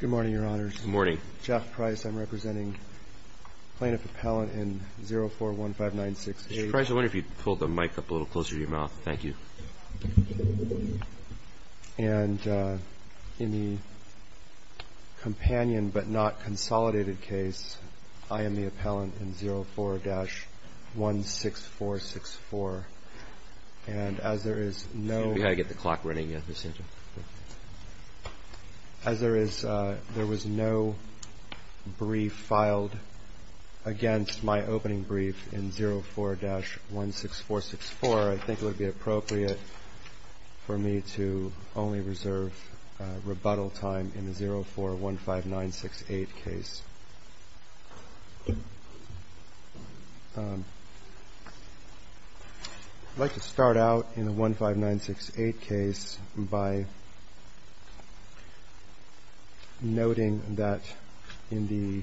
Good morning, Your Honor. Good morning. Jeff Price, I'm representing Plaintiff Appellant in 04-1596-A-1. Mr. Price, I wonder if you'd pull the mic up a little closer to your mouth. Thank you. And in the companion but not consolidated case, I am the appellant in 04-16464. And as there is no... We've got to get the clock running. As there is, there was no brief filed against my opening brief in 04-16464, I think it would be appropriate for me to only reserve rebuttal time in the 04-1596-A case. I'd like to start out in the 1596-A case by noting that in the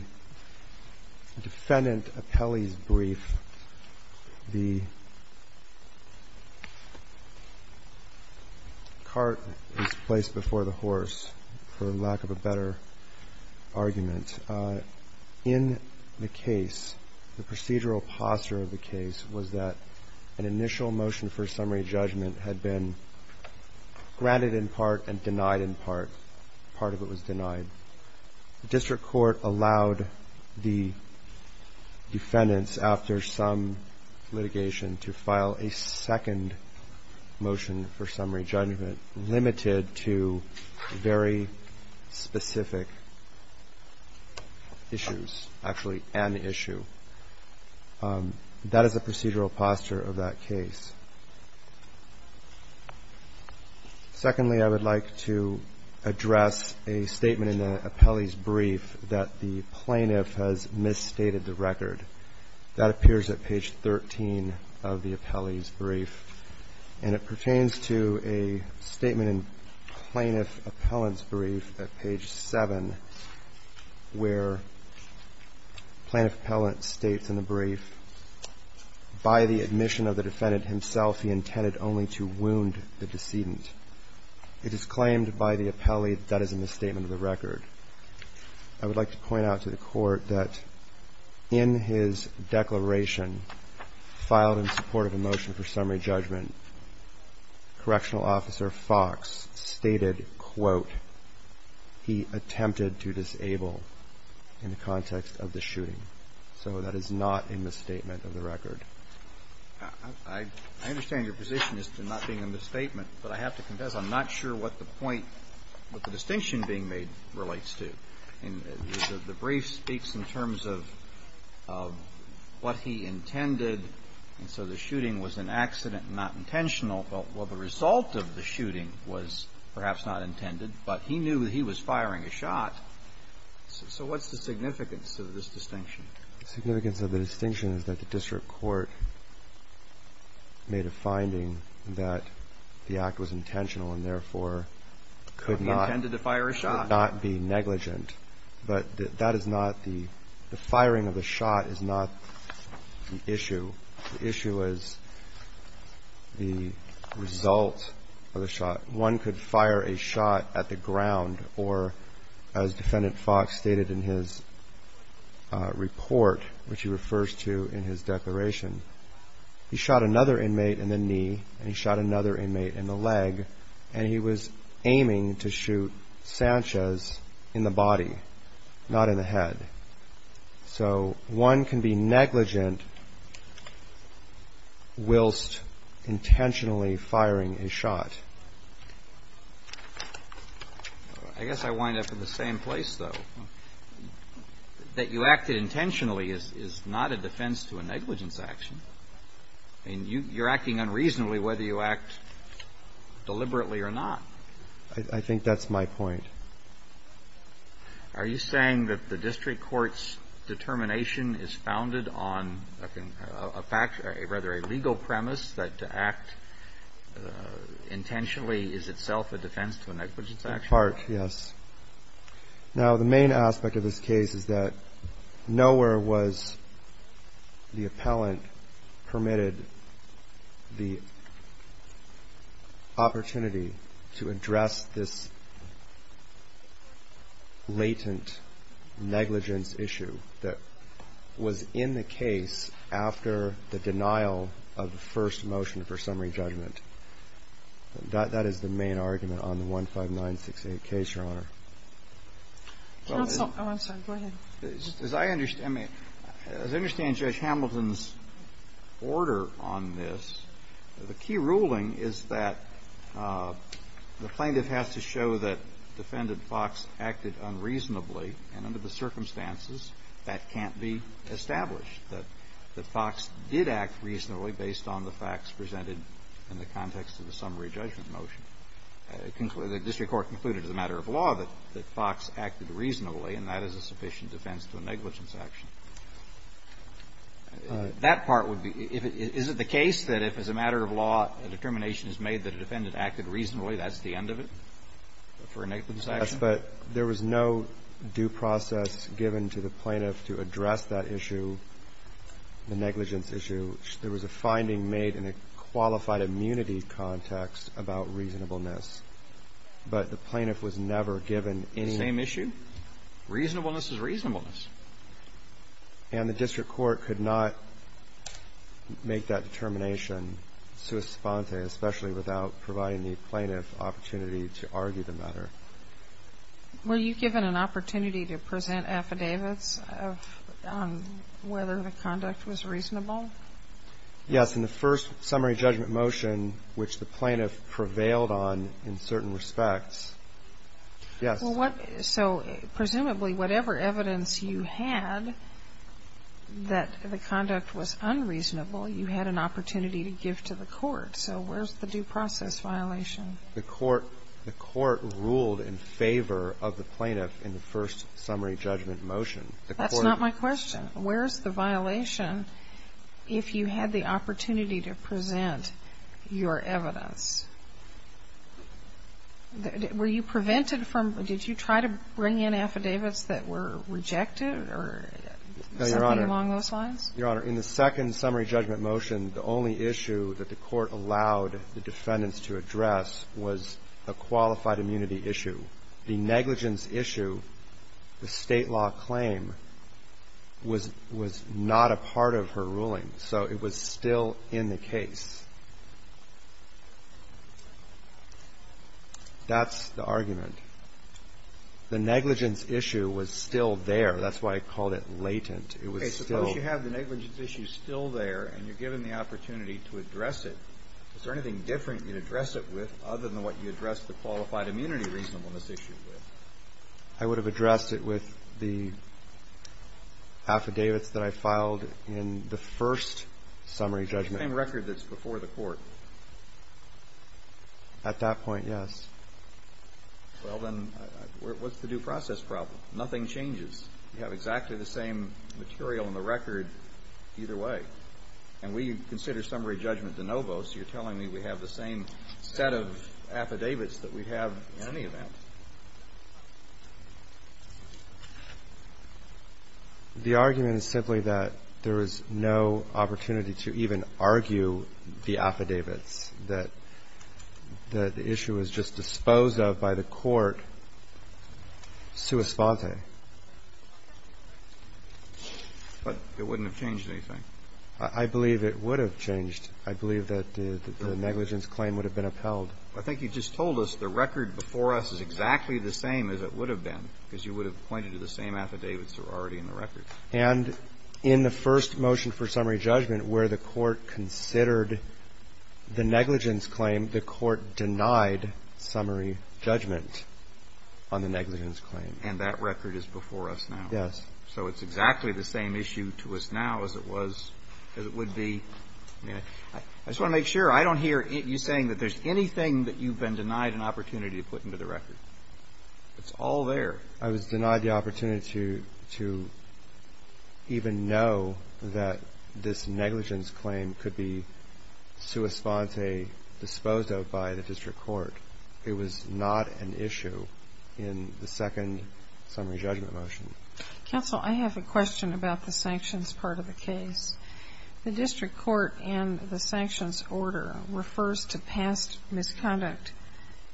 defendant appellee's brief, the cart is placed before the horse, for lack of a better argument. In the case, the procedural posture of the case was that an initial motion for summary judgment had been granted in part and denied in part. Part of it was denied. The district court allowed the defendants, after some litigation, to file a second motion for summary judgment, limited to very specific issues. Actually, an issue. That is the procedural posture of the case. And I'd like to start out in the 1596-A case by noting that in the defendant appellee's brief, the cart is placed before the horse, for lack of a better argument. In the case, the district court allowed the defendants, after some litigation, to file a second motion for summary judgment. I would like to point out to the court that in his declaration, filed in support of a motion for summary judgment, Correctional Officer Fox stated, quote, he attempted to disable in the context of the shooting. So that is not a misstatement of the record. I understand your position as to not being a misstatement, but I have to confess, I'm not sure what the point, what the distinction being made relates to. And the brief speaks in terms of what he intended, and so the shooting was an accident, not intentional. Well, the result of the shooting was perhaps not intended, but he knew that he was firing a shot. So what's the significance of this distinction? The significance of the distinction is that the district court made a finding that the act was intentional, and therefore could not be negligent. But that is not the firing of the shot is not the issue. The issue is the result of the shot. One could fire a shot at the ground, or as Defendant Fox stated in his report, which he refers to in his declaration, he shot another inmate in the knee, and he shot another inmate in the leg, and he was aiming to shoot Sanchez in the body, not in the head. So one can be negligent whilst intentionally firing a shot. I guess I wind up in the same place, though. That you acted intentionally is not a defense to a negligence action. And you're acting unreasonably whether you act deliberately or not. I think that's my point. Are you saying that the district court's determination is founded on a fact, rather a legal premise, that to act intentionally is itself a defense to a negligence action? In part, yes. Now, the main aspect of this case is that nowhere was the appellant permitted the opportunity to address this latent negligence issue that was in the case after the denial of the first motion for summary judgment. That is the main argument on the 15968 case, Your Honor. Oh, I'm sorry. Go ahead. As I understand Judge Hamilton's order on this, the key ruling is that the plaintiff has to show that Defendant Fox acted unreasonably, and under the circumstances, that can't be established. That Fox did act reasonably based on the facts presented in the context of the summary judgment motion. The district court concluded as a matter of law that Fox acted reasonably, and that is a sufficient defense to a negligence action. That part would be – is it the case that if, as a matter of law, a determination is made that a defendant acted reasonably, that's the end of it for a negligence action? Yes, but there was no due process given to the plaintiff to address that issue, the negligence issue. There was a finding made in a qualified immunity context about reasonableness, but the plaintiff was never given any – Same issue? Reasonableness is reasonableness. And the district court could not make that determination sua sponte, especially without providing the plaintiff opportunity to argue the matter. Were you given an opportunity to present affidavits on whether the conduct was reasonable? Yes, in the first summary judgment motion, which the plaintiff prevailed on in certain respects, yes. So presumably, whatever evidence you had that the conduct was unreasonable, you had an opportunity to give to the court, so where's the due process violation? The court ruled in favor of the plaintiff in the first summary judgment motion. That's not my question. Where's the violation if you had the opportunity to present your evidence? Were you prevented from – did you try to bring in affidavits that were rejected or something along those lines? Your Honor, in the second summary judgment motion, the only issue that the court allowed the defendants to address was a qualified immunity issue. The negligence issue, the state law claim, was not a part of her ruling, so it was still in the case. That's the argument. The negligence issue was still there. That's why I called it latent. Okay. Suppose you have the negligence issue still there and you're given the opportunity to address it. Is there anything different you'd address it with other than what you addressed the qualified immunity reasonableness issue with? I would have addressed it with the affidavits that I filed in the first summary judgment. Is it the same record that's before the court? At that point, yes. Well, then, what's the due process problem? Nothing changes. You have exactly the same material in the record either way. And we consider summary judgment de novo, so you're telling me we have the same set of affidavits that we have in any event. The argument is simply that there is no opportunity to even argue the affidavits, that the issue was just disposed of by the court sua sponte. But it wouldn't have changed anything. I believe it would have changed. I believe that the negligence claim would have been upheld. I think you just told us the record before us is exactly the same as it would have been, because you would have pointed to the same affidavits that were already in the record. And in the first motion for summary judgment where the court considered the negligence claim, the court denied summary judgment on the negligence claim. And that record is before us now. Yes. So it's exactly the same issue to us now as it was, as it would be. I just want to make sure. I don't hear you saying that there's anything that you've been denied an opportunity to put into the record. It's all there. I was denied the opportunity to even know that this negligence claim could be sua sponte, disposed of by the district court. It was not an issue in the second summary judgment motion. Counsel, I have a question about the sanctions part of the case. The district court in the sanctions order refers to past misconduct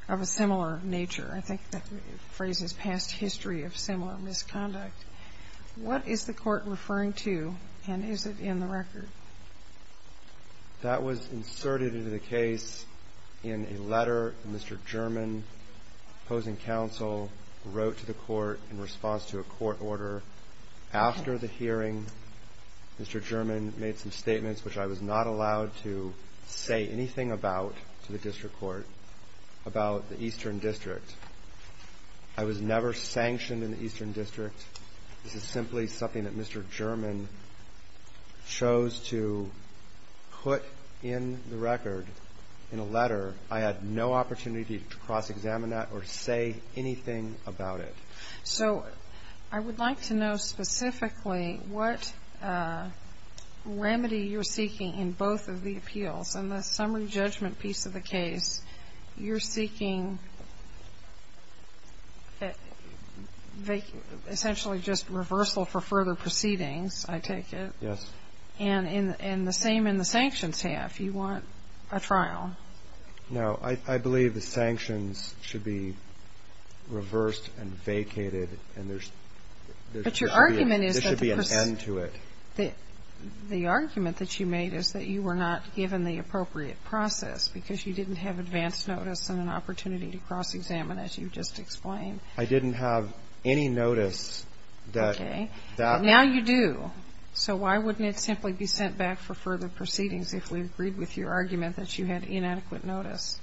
of a similar nature. I think that phrase is past history of similar misconduct. What is the court referring to, and is it in the record? That was inserted into the case in a letter Mr. German, opposing counsel, wrote to the court in response to a court order. After the hearing, Mr. German made some statements which I was not allowed to say anything about to the district court about the eastern district. I was never sanctioned in the eastern district. This is simply something that Mr. German chose to put in the record in a letter. I had no opportunity to cross-examine that or say anything about it. So I would like to know specifically what remedy you're seeking in both of the appeals. In the summary judgment piece of the case, you're seeking essentially just reversal for further proceedings, I take it. Yes. And the same in the sanctions half. You want a trial. No. I believe the sanctions should be reversed and vacated, and there should be an end to it. But your argument is that the person, the argument that you made is that you were not given the appropriate process because you didn't have advance notice and an opportunity to cross-examine, as you've just explained. I didn't have any notice that that. Okay. But now you do. So why wouldn't it simply be sent back for further proceedings if we agreed with your argument that you had inadequate notice?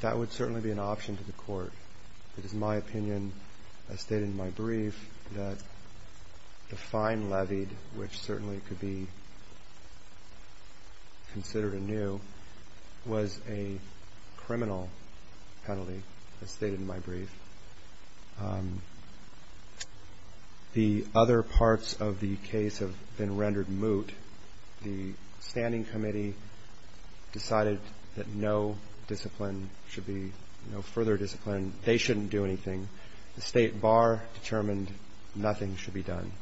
That would certainly be an option to the court. It is my opinion, as stated in my brief, that the fine levied, which certainly could be considered anew, was a criminal penalty, as stated in my brief. The other parts of the case have been rendered moot. The standing committee decided that no discipline should be, no further discipline. They shouldn't do anything. The State Bar determined nothing should be done.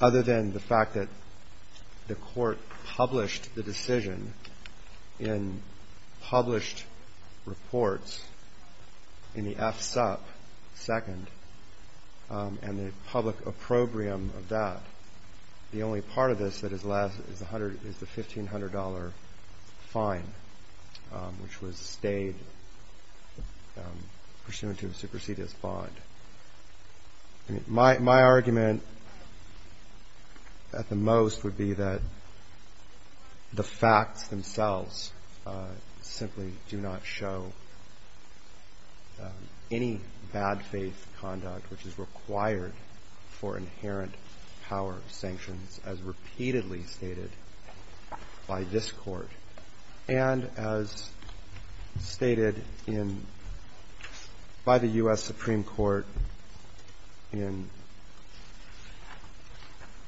Other than the fact that the court published the decision in published reports in the FSUP second, and the public opprobrium of that, the only part of this that is left is the $1,500 fine, which was stayed pursuant to a supersedious bond. My argument at the most would be that the facts themselves simply do not show any bad faith conduct, which is required for inherent power sanctions, as repeatedly stated by this Court, and as stated by the U.S. Supreme Court in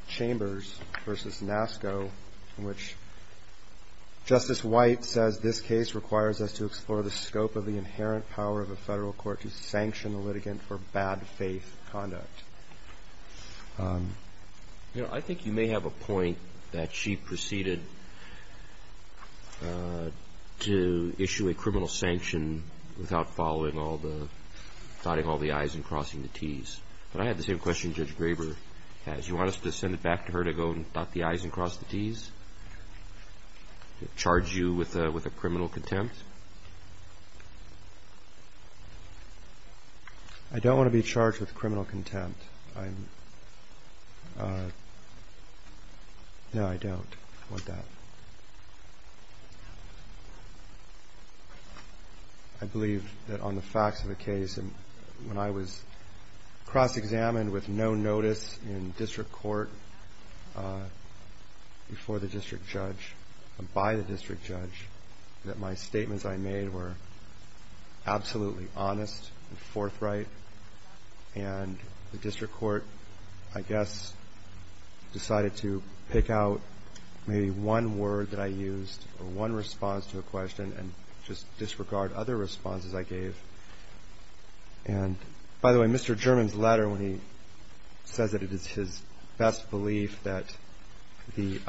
Chambers v. NASCO, in which Justice White says this case requires us to explore the scope of the inherent power of a federal court to sanction a litigant for bad faith conduct. You know, I think you may have a point that she proceeded to issue a criminal sanction without following all the, dotting all the i's and crossing the t's. But I have the same question Judge Graber has. You want us to send it back to her to go and dot the i's and cross the t's? Charge you with a criminal contempt? Excuse me. I don't want to be charged with criminal contempt. No, I don't want that. I believe that on the facts of the case, when I was cross-examined with no notice in district court before the district judge and by the district judge, that my statements I made were absolutely honest and forthright. And the district court, I guess, decided to pick out maybe one word that I used, or one response to a question, and just disregard other responses I gave. And by the way, Mr. German's letter, when he says that it is his best belief that he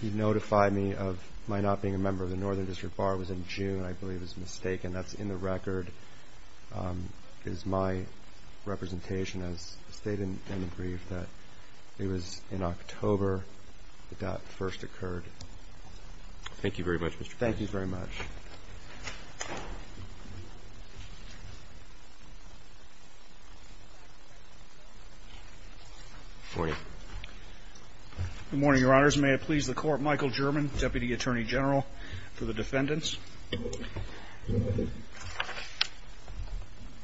notified me of my not being a member of the Northern District Bar, it was in June, I believe it was mistaken. That's in the record, is my representation. As stated in the brief, that it was in October that that first occurred. Thank you very much, Mr. Graber. Good morning, Your Honors. May it please the Court, Michael German, Deputy Attorney General for the Defendants.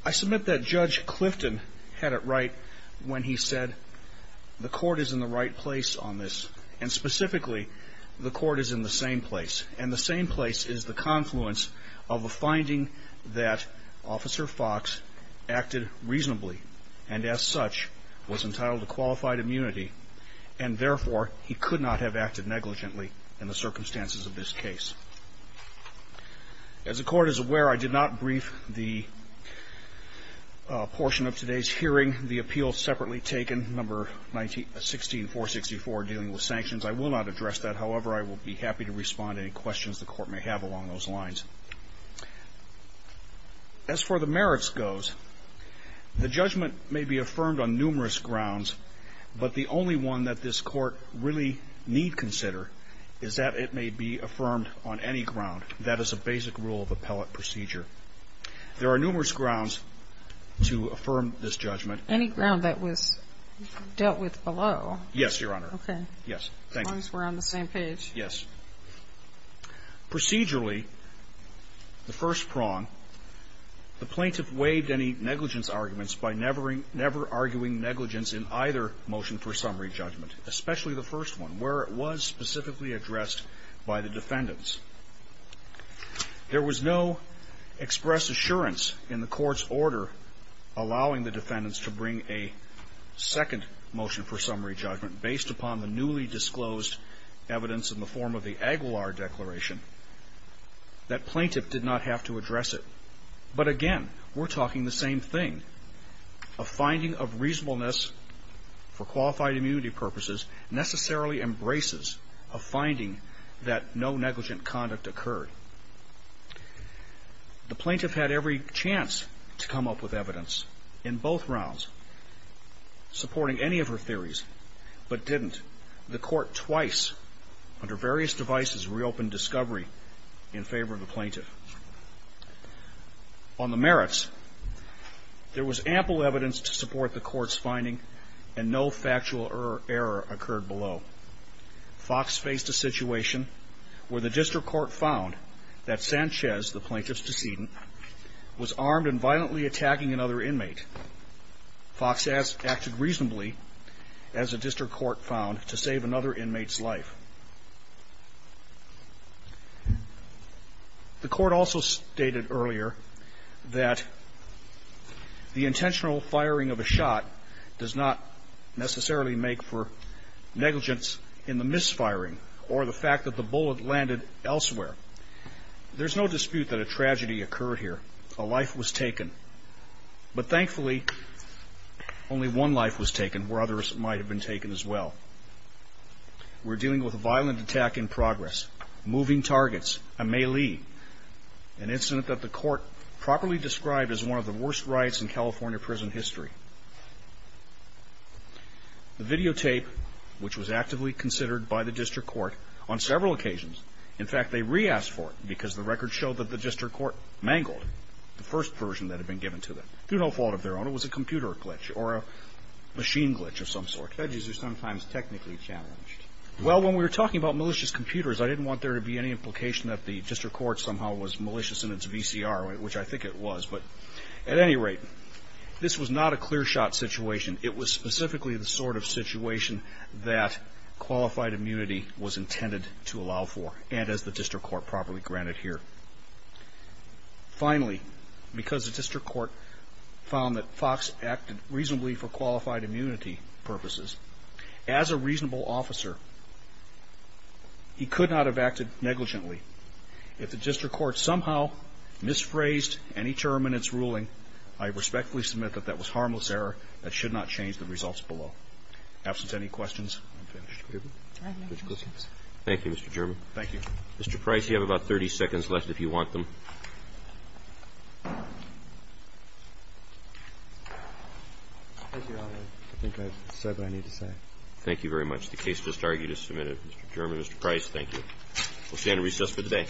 I submit that Judge Clifton had it right when he said, the Court is in the right place on this, and specifically, the Court is in the same place. And the same place is the confluence of a finding that Officer Fox acted reasonably, and as such, was entitled to qualified immunity, and therefore, he could not have acted negligently in the circumstances of this case. As the Court is aware, I did not brief the portion of today's hearing, the appeal separately taken, number 16464, dealing with sanctions. I will not address that. However, I will be happy to respond to any questions the Court may have along those lines. As for the merits goes, the judgment may be affirmed on numerous grounds, but the only one that this Court really need consider is that it may be affirmed on any ground. That is a basic rule of appellate procedure. There are numerous grounds to affirm this judgment. Any ground that was dealt with below? Yes, Your Honor. Okay. Yes. Thank you. As long as we're on the same page. Yes. Procedurally, the first prong, the plaintiff waived any negligence arguments by never arguing negligence in either motion for summary judgment, especially the first one, where it was specifically addressed by the Defendants. There was no express assurance in the Court's order allowing the Defendants to bring a second motion for summary judgment based upon the newly disclosed evidence in the form of the Aguilar Declaration that plaintiff did not have to address it. But again, we're talking the same thing. A finding of reasonableness for qualified immunity purposes necessarily embraces a finding that no negligent conduct occurred. The plaintiff had every chance to come up with evidence in both rounds, supporting any of her theories, but didn't. The Court twice, under various devices, reopened discovery in favor of the plaintiff. On the merits, there was ample evidence to support the Court's finding and no factual error occurred below. Fox faced a situation where the District Court found that Sanchez, the plaintiff's decedent, was armed and violently attacking another inmate. Fox acted reasonably, as the District Court found, to save another inmate's life. The Court also stated earlier that the intentional firing of a shot does not necessarily make for negligence in the misfiring or the fact that the bullet landed elsewhere. There's no dispute that a tragedy occurred here. A life was taken. But thankfully, only one life was taken where others might have been taken as well. We're dealing with a violent attack in progress, moving targets, a melee, an incident that the Court properly described as one of the worst riots in California prison history. The videotape, which was actively considered by the District Court on several occasions, in fact, they re-asked for it because the record showed that the District Court mangled the first version that had been given to them. Through no fault of their own, it was a computer glitch or a machine glitch of some sort. Judges are sometimes technically challenged. Well, when we were talking about malicious computers, I didn't want there to be any implication that the District Court somehow was malicious in its VCR, which I think it was. But at any rate, this was not a clear shot situation. It was specifically the sort of situation that qualified immunity was intended to allow for and as the District Court properly granted here. Finally, because the District Court found that Fox acted reasonably for qualified immunity purposes, as a reasonable officer, he could not have acted negligently. If the District Court somehow misphrased any term in its ruling, I respectfully submit that that was harmless error. That should not change the results below. Absence of any questions, I'm finished. Thank you, Mr. German. Thank you. Mr. Price, you have about 30 seconds left if you want them. I think I said what I needed to say. Thank you very much. The case just argued as submitted. Mr. German, Mr. Price, thank you. We'll stand and recess for the day.